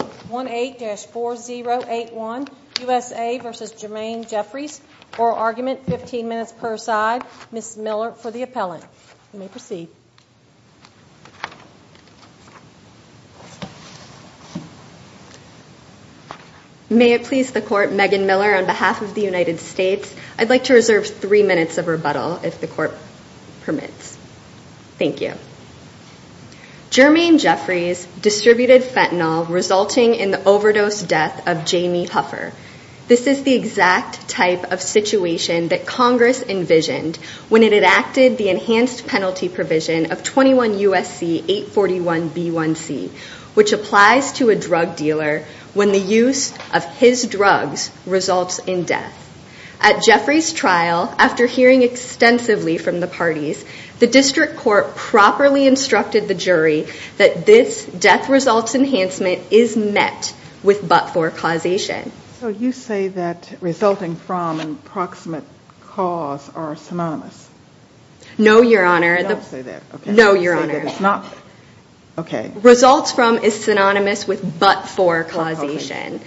18-4081 USA v. Jurmaine Jeffries oral argument 15 minutes per side Mrs. Miller for the appellant. You may proceed. May it please the court Megan Miller on behalf of the United States I'd like to reserve three minutes of rebuttal if the court permits. Thank you. Jurmaine Jeffries distributed fentanyl resulting in the overdose death of Jamie Huffer. This is the exact type of situation that Congress envisioned when it enacted the enhanced penalty provision of 21 USC 841 B1c which applies to a drug dealer when the use of his drugs results in death. At Jeffries trial after hearing extensively from the parties the district court properly instructed the jury that this death results enhancement is met with but-for causation. So you say that resulting from and proximate cause are synonymous? No your honor. No your honor. Okay. Results from is synonymous with but-for causation.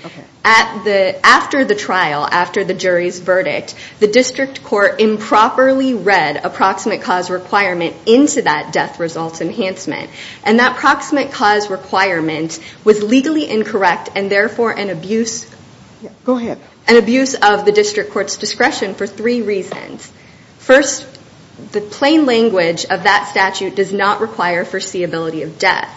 At the after the trial after the jury's verdict the district court improperly read approximate cause requirement into that death results enhancement and that proximate cause requirement was legally incorrect and therefore an abuse. Go ahead. An abuse of the district court's discretion for three reasons. First the plain language of that statute does not require foreseeability of death.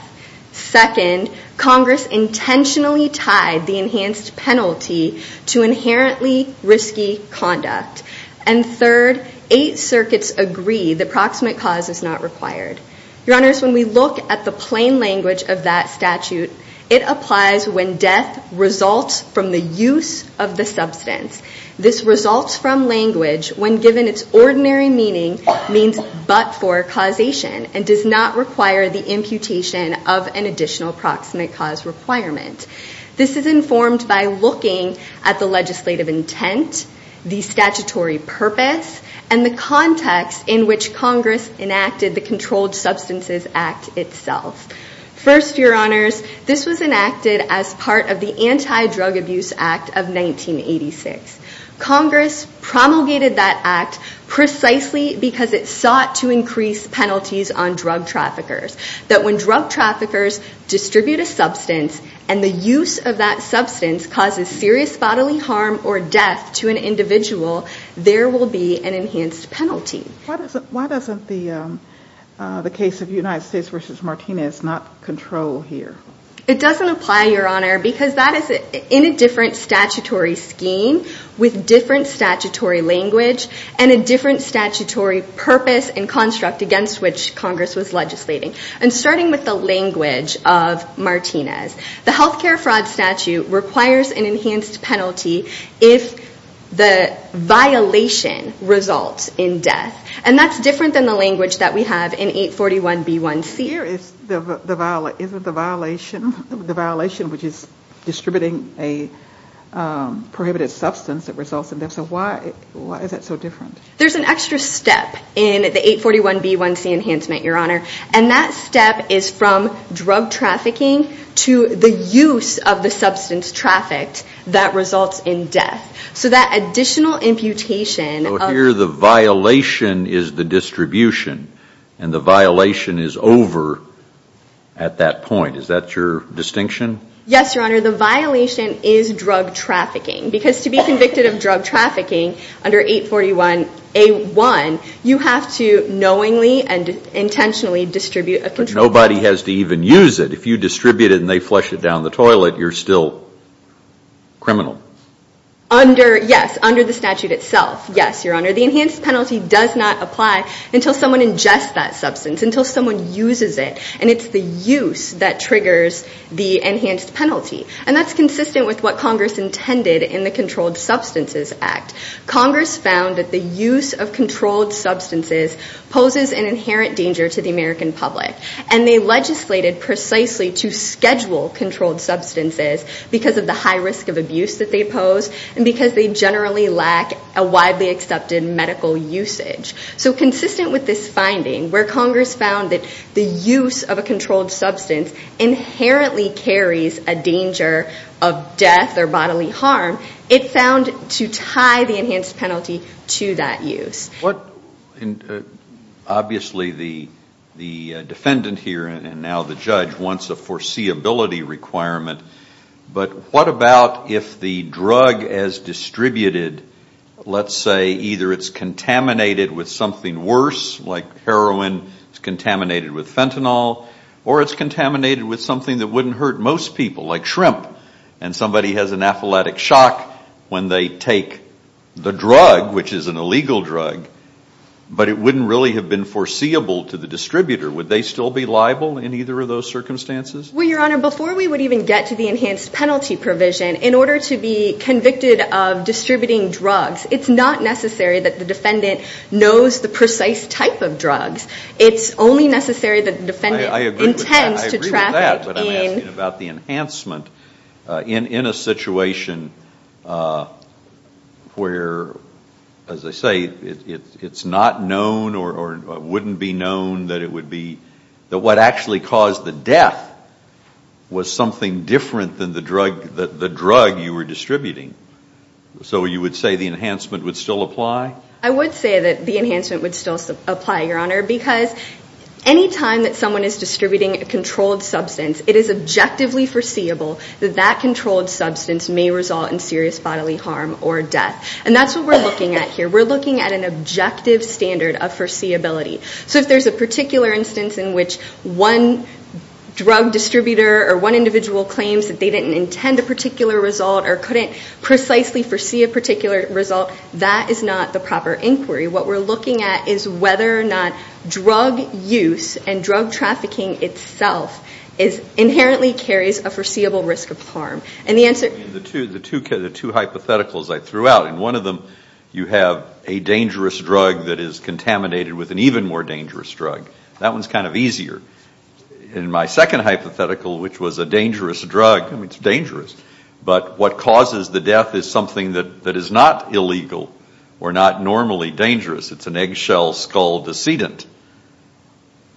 Second Congress intentionally tied the enhanced penalty to inherently risky conduct. And third eight circuits agree the proximate cause is not required. Your honors when we look at the plain language of that statute it applies when death results from the use of the substance. This results from language when given its ordinary meaning means but-for causation and does not require the imputation of an additional proximate cause requirement. This is informed by looking at the legislative intent, the statutory purpose, and the context in which Congress enacted the statute itself. First your honors this was enacted as part of the anti-drug abuse act of 1986. Congress promulgated that act precisely because it sought to increase penalties on drug traffickers. That when drug traffickers distribute a substance and the use of that substance causes serious bodily harm or death to an individual there will be an enhanced penalty. Why doesn't the case of United States v. Martinez not control here? It doesn't apply your honor because that is in a different statutory scheme with different statutory language and a different statutory purpose and construct against which Congress was legislating. And starting with the language of Martinez the health care fraud statute requires an enhanced penalty if the violation results in death. Here isn't the violation the violation which is distributing a prohibited substance that results in death. So why is that so different? There's an extra step in the 841b1c enhancement your honor and that step is from drug trafficking to the use of the substance trafficked that results in death. So that additional imputation. Here the violation is the distribution and the violation is over at that point. Is that your distinction? Yes your honor the violation is drug trafficking because to be convicted of drug trafficking under 841a1 you have to knowingly and intentionally distribute. Nobody has to even use it if you distribute it and they flush it down the toilet you're still criminal. Under yes under the statute itself yes your honor the substance until someone uses it and it's the use that triggers the enhanced penalty and that's consistent with what Congress intended in the Controlled Substances Act. Congress found that the use of controlled substances poses an inherent danger to the American public and they legislated precisely to schedule controlled substances because of the high risk of abuse that they pose and because they generally lack a widely accepted medical usage. So consistent with this finding where Congress found that the use of a controlled substance inherently carries a danger of death or bodily harm it found to tie the enhanced penalty to that use. What and obviously the the defendant here and now the judge wants a foreseeability requirement but what about if the drug as distributed let's say either it's contaminated with something worse like heroin is contaminated with fentanyl or it's contaminated with something that wouldn't hurt most people like shrimp and somebody has an athletic shock when they take the drug which is an illegal drug but it wouldn't really have been foreseeable to the distributor would they still be liable in either of those circumstances? Well your honor before we would even get to the enhanced penalty provision in order to be convicted of the precise type of drugs it's only necessary that the defendant intends to traffic in. I agree with that but I'm asking about the enhancement in in a situation where as I say it's not known or wouldn't be known that it would be that what actually caused the death was something different than the drug that the drug you were distributing. So you would say the enhancement would still apply? I would say that the enhancement would still apply your honor because anytime that someone is distributing a controlled substance it is objectively foreseeable that that controlled substance may result in serious bodily harm or death and that's what we're looking at here we're looking at an objective standard of foreseeability so if there's a particular instance in which one drug distributor or one individual claims that they didn't intend a particular result or couldn't precisely foresee a particular result that is not the proper inquiry. What we're looking at is whether or not drug use and drug trafficking itself is inherently carries a foreseeable risk of harm and the answer... The two hypotheticals I threw out and one of them you have a dangerous drug that is contaminated with an even more dangerous drug that one's kind of easier. In my second hypothetical which was a dangerous drug I mean it's dangerous but what causes the death is something that that is not illegal or not normally dangerous it's an eggshell skull decedent.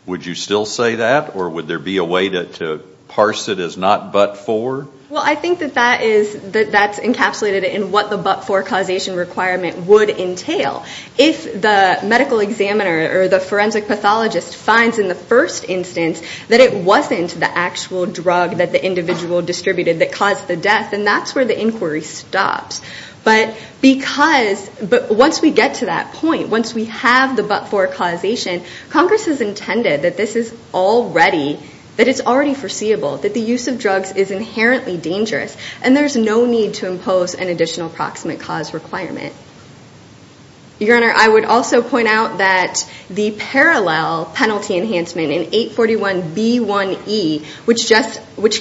Would you still say that or would there be a way to parse it as not but for? Well I think that that is that that's encapsulated in what the but for causation requirement would entail. If the medical examiner or the forensic pathologist finds in the first instance that it wasn't the actual drug that the individual distributed that caused the inquiry stops but because but once we get to that point once we have the but for causation Congress has intended that this is already that it's already foreseeable that the use of drugs is inherently dangerous and there's no need to impose an additional proximate cause requirement. Your Honor I would also point out that the parallel penalty enhancement in 841b1e which just which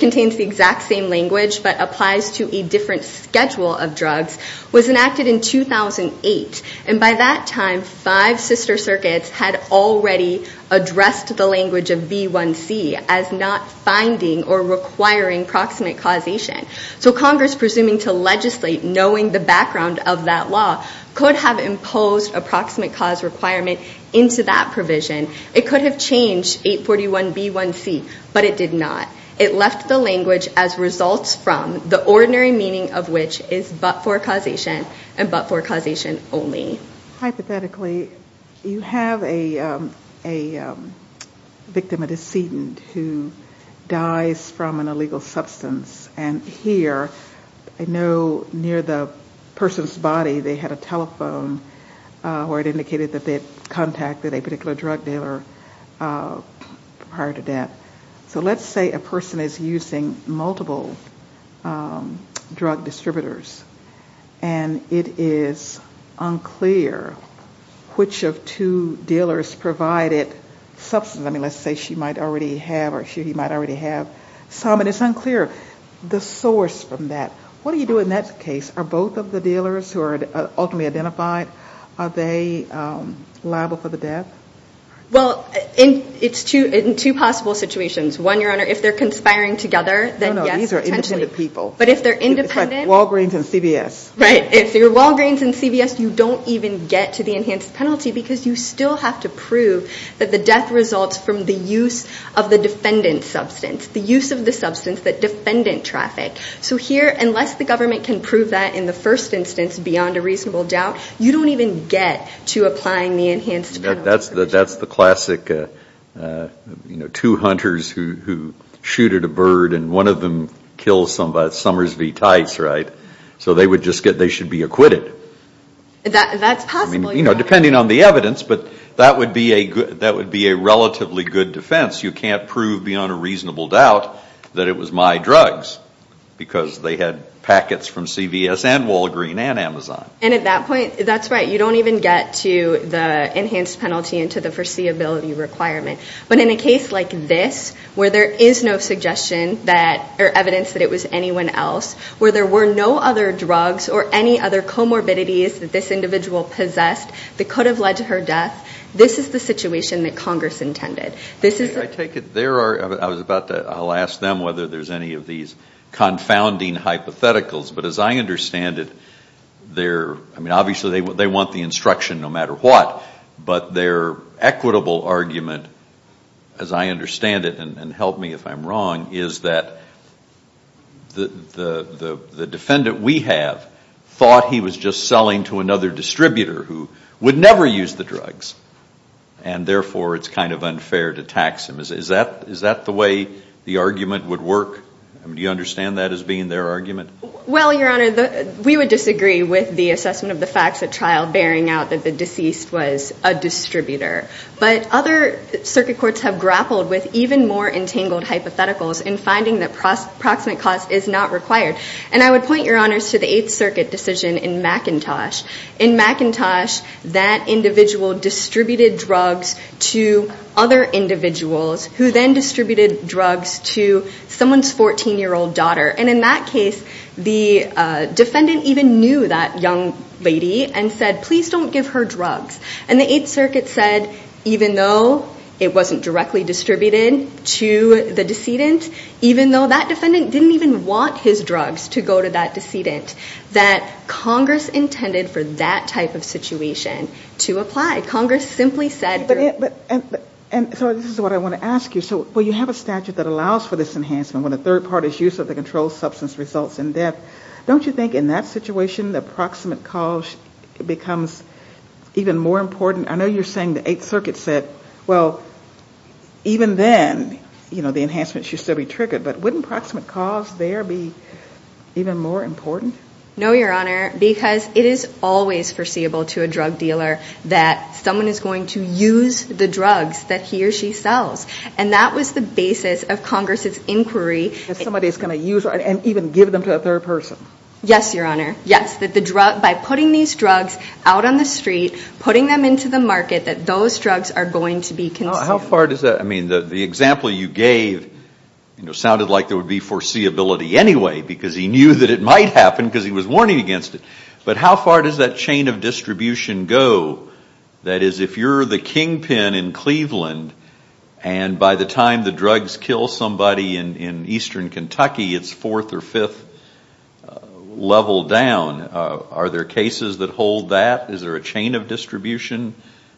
schedule of drugs was enacted in 2008 and by that time five sister circuits had already addressed the language of b1c as not finding or requiring proximate causation. So Congress presuming to legislate knowing the background of that law could have imposed a proximate cause requirement into that provision. It could have changed 841b1c but it did not. It left the language as results from the ordinary meaning of which is but for causation and but for causation only. Hypothetically you have a a victim a decedent who dies from an illegal substance and here I know near the person's body they had a telephone where it indicated that they had contacted a particular drug dealer prior to death. So drug distributors and it is unclear which of two dealers provided substance. I mean let's say she might already have or she might already have some and it's unclear the source from that. What do you do in that case are both of the dealers who are ultimately identified are they liable for the death? Well in it's two in two possible situations. One Your Honor if they're conspiring together then yes. But if they're independent Walgreens and CVS. Right if they're Walgreens and CVS you don't even get to the enhanced penalty because you still have to prove that the death results from the use of the defendant substance the use of the substance that defendant traffic. So here unless the government can prove that in the first instance beyond a reasonable doubt you don't even get to applying the enhanced. That's the that's the classic you know two hunters who shooted a bird and one of them kills somebody Summers V. Tice right so they would just get they should be acquitted. That's possible. You know depending on the evidence but that would be a good that would be a relatively good defense you can't prove beyond a reasonable doubt that it was my drugs because they had packets from CVS and Walgreen and Amazon. And at that point that's right you don't even get to the enhanced penalty into the foreseeability requirement. But in a case like this where there is no suggestion that or evidence that it was anyone else. Where there were no other drugs or any other comorbidities that this individual possessed that could have led to her death. This is the situation that Congress intended. This is I take it there are I was about to I'll ask them whether there's any of these confounding hypotheticals. But as I understand it they're I mean obviously they would they want the instruction no matter what. But their equitable argument as I understand it and help me if I'm wrong is that the the the defendant we have thought he was just selling to another distributor who would never use the drugs. And therefore it's kind of unfair to tax him. Is that is that the way the argument would work? Do you understand that as being their argument? Well your honor the we would agree with the assessment of the facts at trial bearing out that the deceased was a distributor. But other circuit courts have grappled with even more entangled hypotheticals in finding that proximate cost is not required. And I would point your honors to the Eighth Circuit decision in McIntosh. In McIntosh that individual distributed drugs to other individuals who then distributed drugs to someone's 14 year old daughter. And in that case the defendant knew that young lady and said please don't give her drugs. And the Eighth Circuit said even though it wasn't directly distributed to the decedent, even though that defendant didn't even want his drugs to go to that decedent, that Congress intended for that type of situation to apply. Congress simply said. But and so this is what I want to ask you. So well you have a statute that allows for this enhancement when a third party's use of the drug. In that situation the proximate cause becomes even more important. I know you're saying the Eighth Circuit said well even then you know the enhancement should still be triggered. But wouldn't proximate cause there be even more important? No your honor because it is always foreseeable to a drug dealer that someone is going to use the drugs that he or she sells. And that was the basis of Congress's inquiry. If somebody's going to use and even give them to a third person. Yes your honor. Yes that the drug by putting these drugs out on the street, putting them into the market that those drugs are going to be consumed. How far does that I mean the example you gave you know sounded like there would be foreseeability anyway because he knew that it might happen because he was warning against it. But how far does that chain of distribution go that is if you're the kingpin in Cleveland and by the time the drugs kill somebody in Eastern Kentucky it's fourth or fifth level down. Are there cases that hold that? Is there a chain of distribution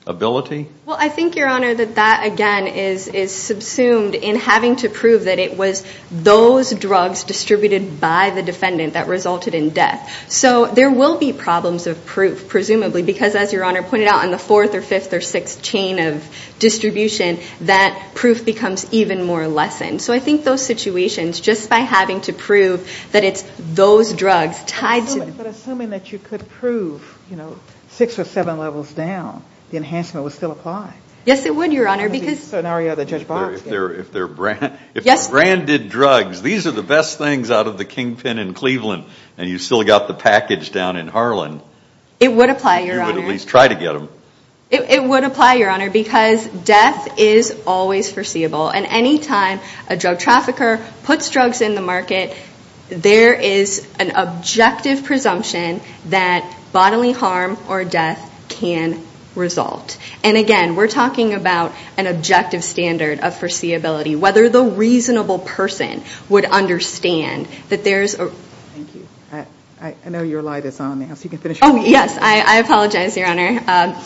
ability? Well I think your honor that that again is subsumed in having to prove that it was those drugs distributed by the defendant that resulted in death. So there will be problems of proof presumably because as your honor pointed out on the fourth or fifth or sixth chain of distribution that proof becomes even more lessened. So I think those situations just by having to prove that it's those drugs tied to. But assuming that you could prove you know six or seven levels down the enhancement would still apply. Yes it would your honor because. If they're if they're branded drugs these are the best things out of the kingpin in Cleveland and you still got the package down in Harlan. It would apply your honor. You would at least try to get them. It would apply your honor because death is always foreseeable and anytime a drug trafficker puts drugs in the market there is an objective presumption that bodily harm or death can result. And again we're talking about an objective standard of foreseeability. Whether the reasonable person would understand that there's. I know your light is on now so you can finish. Oh yes I apologize your honor.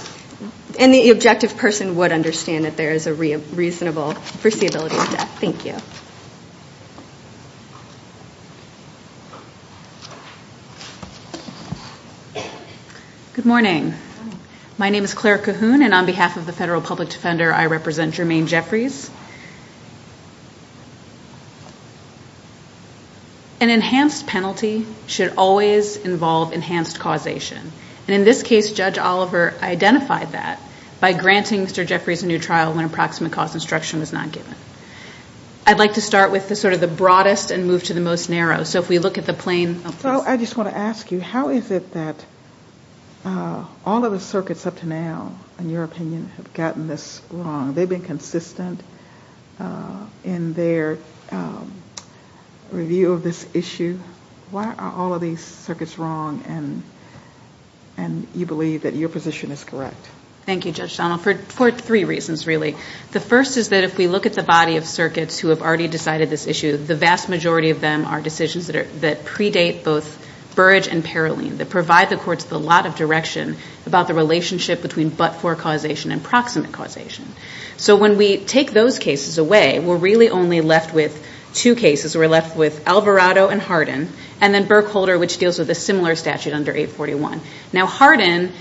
And the objective person would understand that there is a reasonable foreseeability of death. Thank you. Good morning. My name is Claire Cahoon and on behalf of the Federal Public Defender I represent Jermaine Jeffries. An enhanced penalty should always involve enhanced causation. And in this case Judge Oliver identified that by granting Mr. Jeffries a trial when approximate cause instruction was not given. I'd like to start with the sort of the broadest and move to the most narrow. So if we look at the plain. So I just want to ask you how is it that all of the circuits up to now in your opinion have gotten this wrong? They've been consistent in their review of this issue. Why are all of these circuits wrong and you believe that your position is correct? Thank you Judge Donnell for three reasons really. The first is that if we look at the body of circuits who have already decided this issue the vast majority of them are decisions that predate both Burrage and Paroline. That provide the courts with a lot of direction about the relationship between but-for causation and proximate causation. So when we take those cases away we're really only left with two cases. We're left with Alvarado and Hardin and then Burkholder which deals with a similar statute under 841. Now Hardin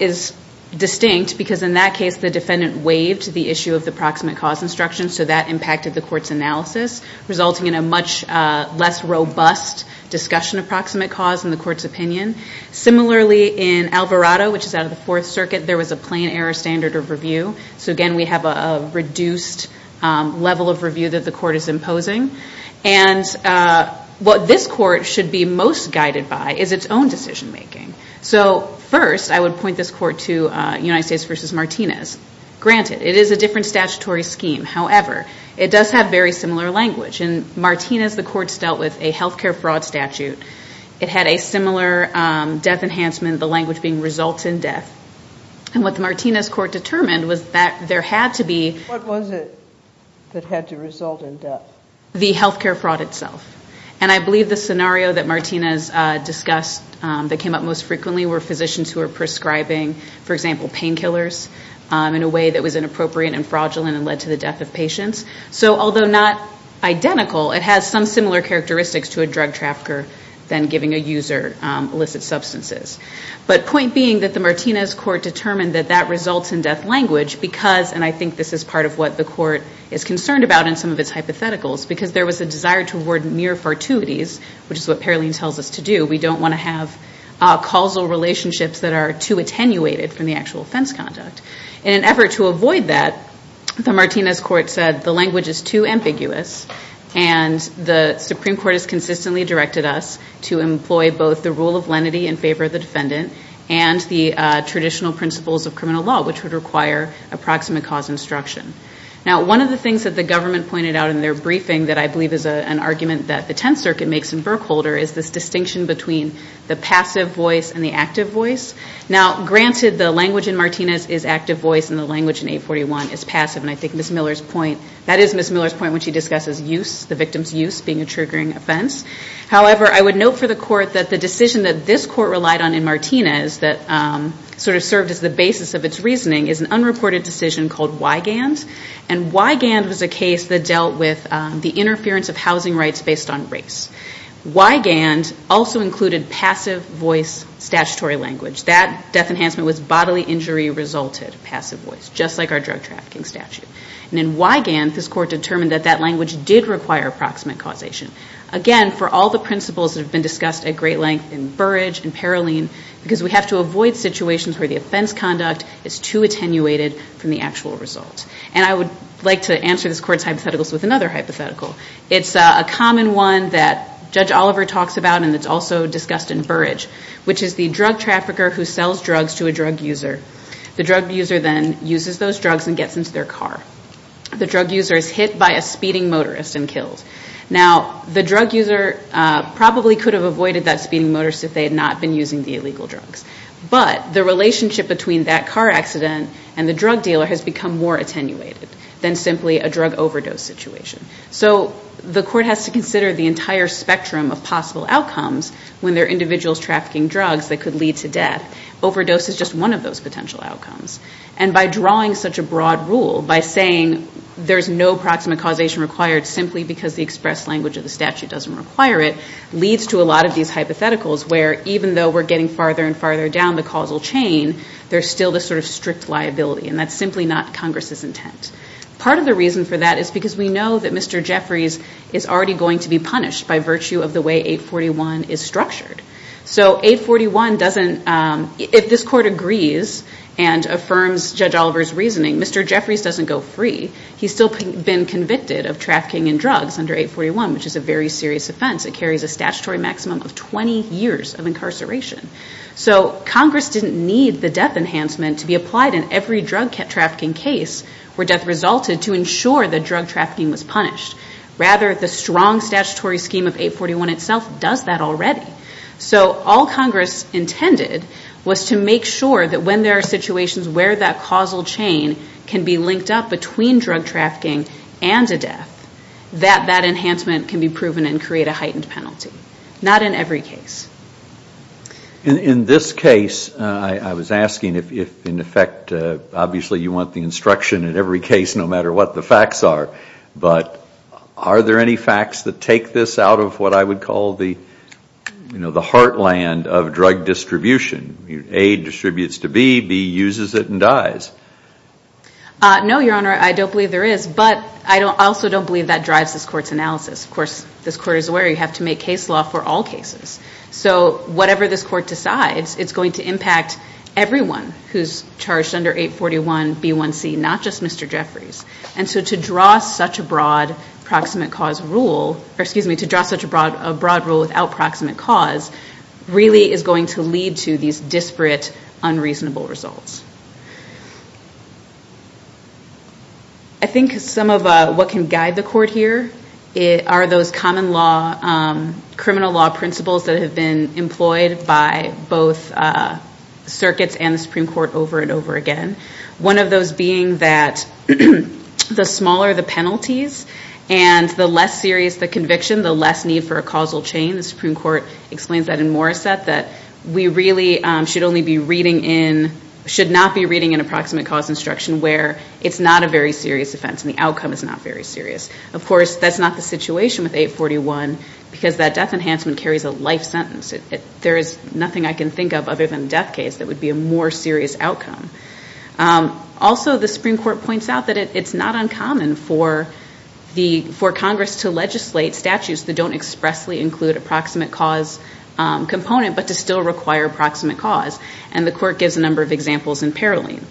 is distinct because in that case the defendant waived the issue of the proximate cause instruction so that impacted the courts analysis resulting in a much less robust discussion of proximate cause in the courts opinion. Similarly in Alvarado which is out of the Fourth Circuit there was a plain error standard of review. So again we have a reduced level of review that the court is imposing. And what this court should be most guided by is its own decision making. So first I would point this court to United States v. Martinez. Granted it is a different statutory scheme however it does have very similar language. In Martinez the courts dealt with a health care fraud statute. It had a similar death enhancement the language being results in death. And what the Martinez court determined was that there had to be. What was it that had to result in death? The health care fraud itself. And I believe the scenario that Martinez discussed that came up most frequently were physicians who were prescribing for example painkillers in a way that was inappropriate and fraudulent and led to the death of patients. So although not identical it has some similar characteristics to a drug trafficker than giving a user illicit substances. But point being that the Martinez court determined that that results in death language because and I think this is part of what the court is concerned about in some of its hypotheticals because there was a desire toward near fortuities which is what Paroline tells us to do. We don't want to have causal relationships that are too attenuated from the actual offense conduct. In an effort to avoid that the Martinez court said the language is too ambiguous and the Supreme Court has consistently directed us to employ both the rule of lenity in favor of the defendant and the traditional principles of criminal law which would require approximate cause instruction. Now one of the things that the government pointed out in their briefing that I believe is an argument that the Tenth Circuit makes in Berkholder is this distinction between the passive voice and the active voice. Now granted the language in Martinez is active voice and the language in 841 is passive and I think Ms. Miller's point, that is Ms. Miller's point when she discusses use, the victim's use being a triggering offense. However, I would note for the court that the decision that this court relied on in Martinez that sort of served as the basis of its reasoning is an unreported decision called Wygand and Wygand was a case that dealt with the interference of housing rights based on race. Wygand also included passive voice statutory language. That death enhancement was bodily injury resulted passive voice just like our drug trafficking statute. And in Wygand this court determined that that language did require approximate causation. Again, for all the principles that have been discussed at great length in Burrage and Paroline because we have to avoid situations where the offense conduct is too attenuated from the actual result. And I would like to answer this court's hypotheticals with another hypothetical. It's a common one that Judge Oliver talks about and it's also discussed in Burrage which is the drug trafficker who sells drugs to a drug user. The drug user then uses those drugs and gets into their car. The drug user is hit by a speeding motorist and killed. Now, the drug user probably could have avoided that speeding motorist if they had not been using the illegal drugs. But the relationship between that car accident and the drug dealer has become more attenuated than simply a drug overdose situation. So the court has to consider the entire spectrum of possible outcomes when there are individuals trafficking drugs that could lead to death. Overdose is just one of those potential outcomes. And by drawing such a broad rule, by saying there's no approximate causation required simply because the express language of the statute doesn't require it, leads to a lot of these hypotheticals where even though we're getting farther and farther down the causal chain, there's still this sort of strict liability. And that's simply not Congress's intent. Part of the reason for that is because we know that Mr. Jeffries is already going to be punished by virtue of the way 841 is structured. So 841 doesn't, if this court agrees and affirms Judge Oliver's reasoning, Mr. Jeffries doesn't go free. He's still been convicted of trafficking in drugs under 841 which is a very serious offense. It carries a statutory maximum of 20 years of incarceration. So Congress didn't need the death enhancement to be applied in every drug trafficking case where death resulted to ensure that drug trafficking was punished. Rather, the strong statutory scheme of 841 itself does that already. So all Congress intended was to make sure that when there are situations where that causal chain can be linked up between drug trafficking and a death, that that enhancement can be proven and create a heightened penalty. Not in every case. In this case, I was asking if in effect, obviously you want the instruction in every case no matter what the facts are, but are there any facts that take this out of what I would call the heartland of drug distribution? A distributes to B, B uses it and dies. No, Your Honor, I don't believe there is. But I also don't believe that drives this court's analysis. Of course, this court is aware you have to make case law for all cases. So whatever this court decides, it's going to impact everyone who's charged under 841 B1C, not just Mr. Jeffries. And so to draw such a broad rule without proximate cause really is going to lead to these disparate, unreasonable results. I think some of what can guide the court here are those common law, criminal law principles that have been employed by both circuits and the Supreme Court over and over again. One of those being that the smaller the penalties and the less serious the conviction, the less need for a causal chain. The Supreme Court explains that in Morissette, that we really should not be reading an approximate cause instruction where it's not a very serious offense and the outcome is not very serious. Of course, that's not the situation with 841, because that death enhancement carries a life sentence. There is nothing I can think of other than death case that would be a more serious outcome. Also, the Supreme Court points out that it's not uncommon for Congress to legislate statutes that don't expressly include a proximate cause component, but to still require proximate cause. And the court gives a number of examples in Paroline.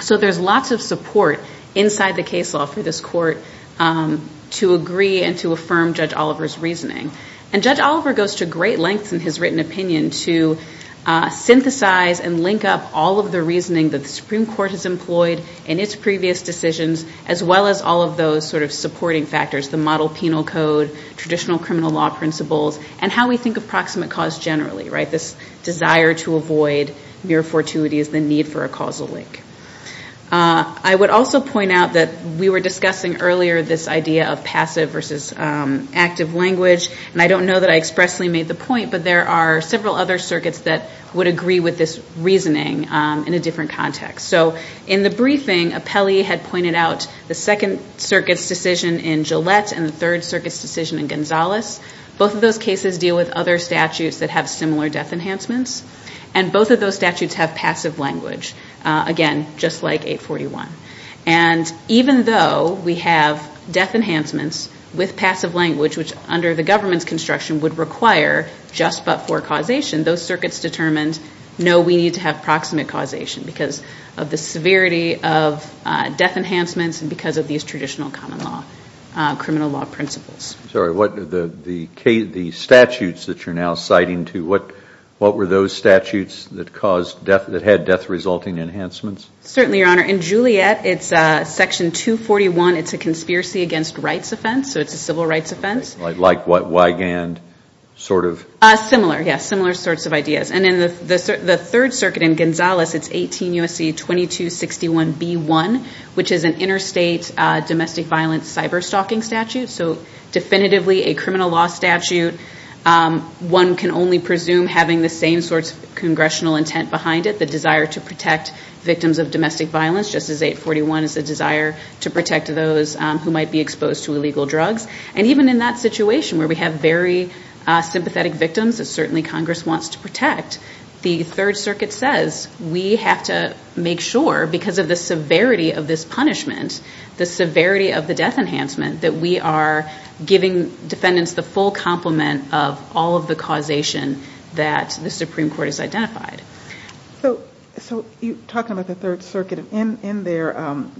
So there's lots of support inside the case law for this court to agree and to affirm Judge Oliver's reasoning. And Judge Oliver goes to great lengths in his written opinion to synthesize and link up all of the reasoning that the Supreme Court has employed in its previous decisions, as well as all of those sort of supporting factors, the model penal code, traditional criminal law principles, and how we think of proximate cause generally. This desire to avoid mere fortuity is the need for a causal link. I would also point out that we were discussing earlier this idea of passive versus active language. And I don't know that I expressly made the point, but there are several other circuits that would agree with this reasoning in a different context. So in the briefing, Apelli had pointed out the Second Circuit's decision in Gillette and the Third Circuit's decision in Gonzales. Both of those cases deal with other statutes that have similar death enhancements. And both of those statutes have passive language, again, just like 841. And even though we have death enhancements with passive language, which under the government's construction would require just but for causation, those circuits determined, no, we need to have proximate causation because of the severity of death enhancements and because of these traditional common law criminal law principles. I'm sorry. The statutes that you're now citing, too, what were those statutes that had death-resulting enhancements? Certainly, Your Honor. In Gillette, it's Section 241. It's a conspiracy against rights offense, so it's a civil rights offense. Like what? Wygand? Sort of? Similar. Yes, similar sorts of ideas. And in the Third Circuit in Gonzales, it's 18 U.S.C. 2261b1, which is an interstate domestic violence cyberstalking statute, so definitively a criminal law statute. One can only presume having the same sorts of congressional intent behind it, the desire to protect victims of domestic violence, just as 841 is a desire to protect those who might be exposed to illegal drugs. And even in that situation where we have very sympathetic victims that certainly Congress wants to protect, the Third Circuit says we have to make sure, because of the severity of this punishment, the severity of the death enhancement, that we are giving defendants the full complement of all of the causation that the Supreme Court has identified. So you're talking about the Third Circuit. Your Honor, I think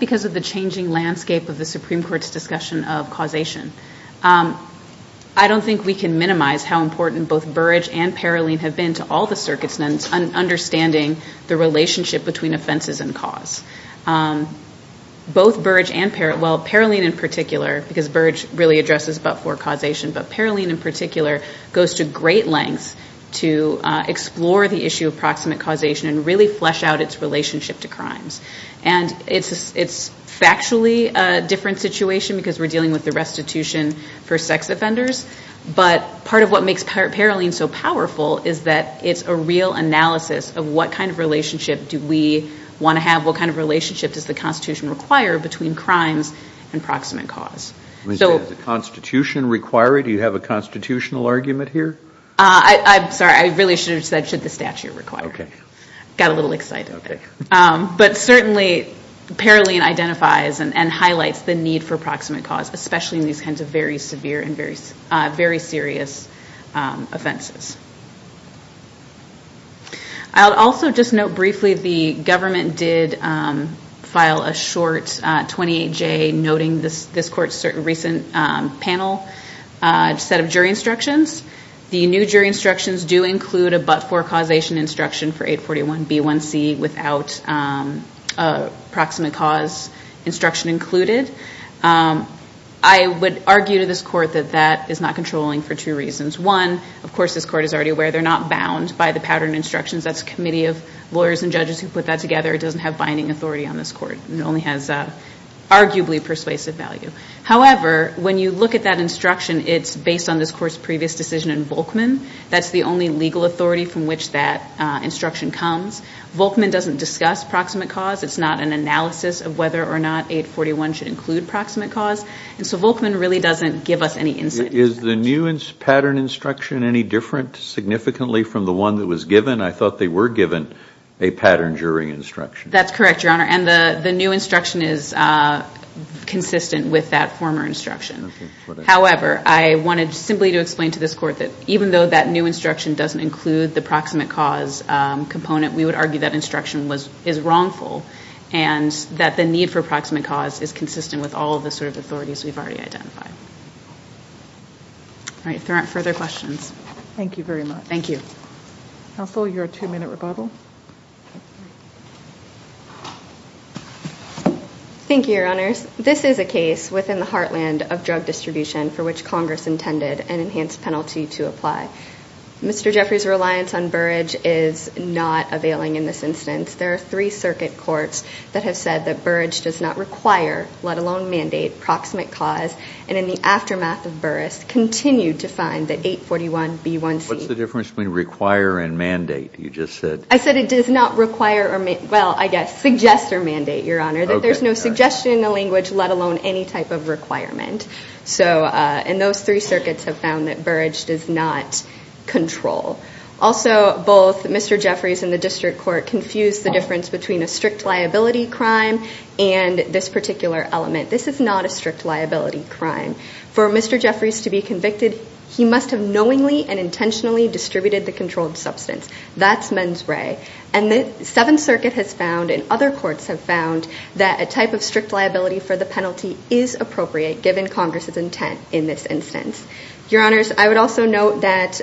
because of the changing landscape of the Supreme Court's discussion of causation, I don't think we can minimize how important both Burrage and Paroline have been to all the circuits in understanding the relationship between offenses and cause. Both Burrage and Paroline, well Paroline in particular, because Burrage really addresses but-for causation, but Paroline in particular goes to great lengths to explore the issue of proximate causation and really flesh out its relationship to crimes. And it's factually a different situation because we're dealing with the restitution for sex offenders, but part of what makes Paroline so powerful is that it's a real analysis of what kind of relationship do we want to have, what kind of relationship does the Constitution require between crimes and proximate cause. Does the Constitution require it? Do you have a constitutional argument here? I'm sorry, I really should have said should the statute require it. Okay. Got a little excited. Okay. But certainly Paroline identifies and highlights the need for proximate cause, especially in these kinds of very severe and very serious offenses. I'll also just note briefly the government did file a short 28-J noting this court's recent panel set of jury instructions. The new jury instructions do include a but-for causation instruction for 841B1C without a proximate cause instruction included. I would argue to this court that that is not controlling for two reasons. One, of course this court is already aware they're not bound by the pattern instructions. That's a committee of lawyers and judges who put that together. It doesn't have binding authority on this court. It only has arguably persuasive value. However, when you look at that instruction, it's based on this court's previous decision in Volkman. That's the only legal authority from which that instruction comes. Volkman doesn't discuss proximate cause. It's not an analysis of whether or not 841 should include proximate cause. And so Volkman really doesn't give us any insight into that. Is the new pattern instruction any different significantly from the one that was given? I thought they were given a pattern jury instruction. That's correct, Your Honor, and the new instruction is consistent with that former instruction. However, I wanted simply to explain to this court that even though that new instruction doesn't include the proximate cause component, we would argue that instruction is wrongful and that the need for proximate cause is consistent with all the sort of authorities we've already identified. All right, if there aren't further questions. Thank you very much. Thank you. Counsel, your two-minute rebuttal. Thank you, Your Honors. This is a case within the heartland of drug distribution for which Congress intended an enhanced penalty to apply. Mr. Jeffrey's reliance on Burrage is not availing in this instance. There are three circuit courts that have said that Burrage does not require, let alone mandate, proximate cause, and in the aftermath of Burris continued to find that 841B1C. What's the difference between require and mandate, you just said? I said it does not require or, well, I guess suggest or mandate, Your Honor, that there's no suggestion in the language, let alone any type of requirement. And those three circuits have found that Burrage does not control. Also, both Mr. Jeffrey's and the district court confused the difference between a strict liability crime and this particular element. This is not a strict liability crime. For Mr. Jeffrey's to be convicted, he must have knowingly and intentionally distributed the controlled substance. That's mens re. And the Seventh Circuit has found and other courts have found that a type of strict liability for the penalty is appropriate given Congress's intent in this instance. Your Honors, I would also note that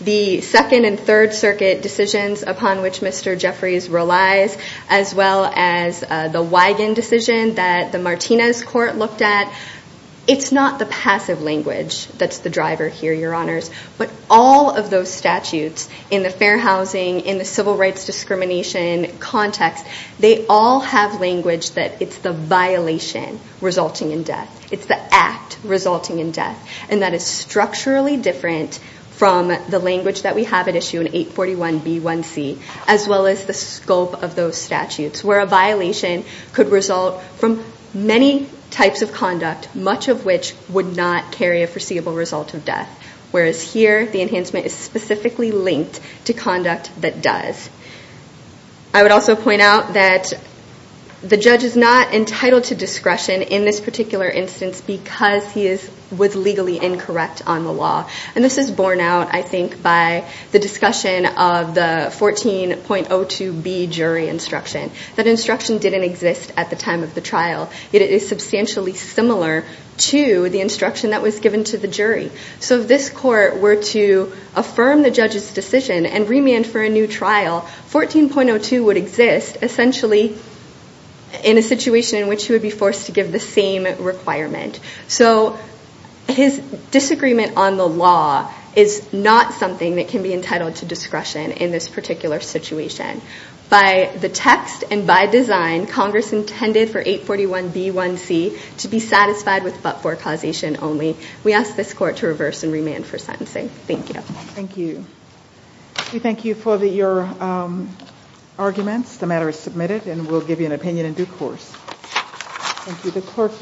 the Second and Third Circuit decisions upon which Mr. Jeffrey's relies, as well as the Wigan decision that the Martinez court looked at, it's not the passive language that's the driver here, Your Honors. But all of those statutes in the fair housing, in the civil rights discrimination context, they all have language that it's the violation resulting in death. It's the act resulting in death. And that is structurally different from the language that we have at issue in 841B1C, as well as the scope of those statutes where a violation could result from many types of conduct, much of which would not carry a foreseeable result of death. Whereas here, the enhancement is specifically linked to conduct that does. I would also point out that the judge is not entitled to discretion in this particular instance because he was legally incorrect on the law. And this is borne out, I think, by the discussion of the 14.02B jury instruction. That instruction didn't exist at the time of the trial. It is substantially similar to the instruction that was given to the jury. So if this court were to affirm the judge's decision and remand for a new trial, 14.02 would exist essentially in a situation in which he would be forced to give the same requirement. So his disagreement on the law is not something that can be entitled to discretion in this particular situation. By the text and by design, Congress intended for 841B1C to be satisfied with but for causation only. We ask this court to reverse and remand for sentencing. Thank you. Thank you. We thank you for your arguments. The matter is submitted and we'll give you an opinion in due course. Thank you.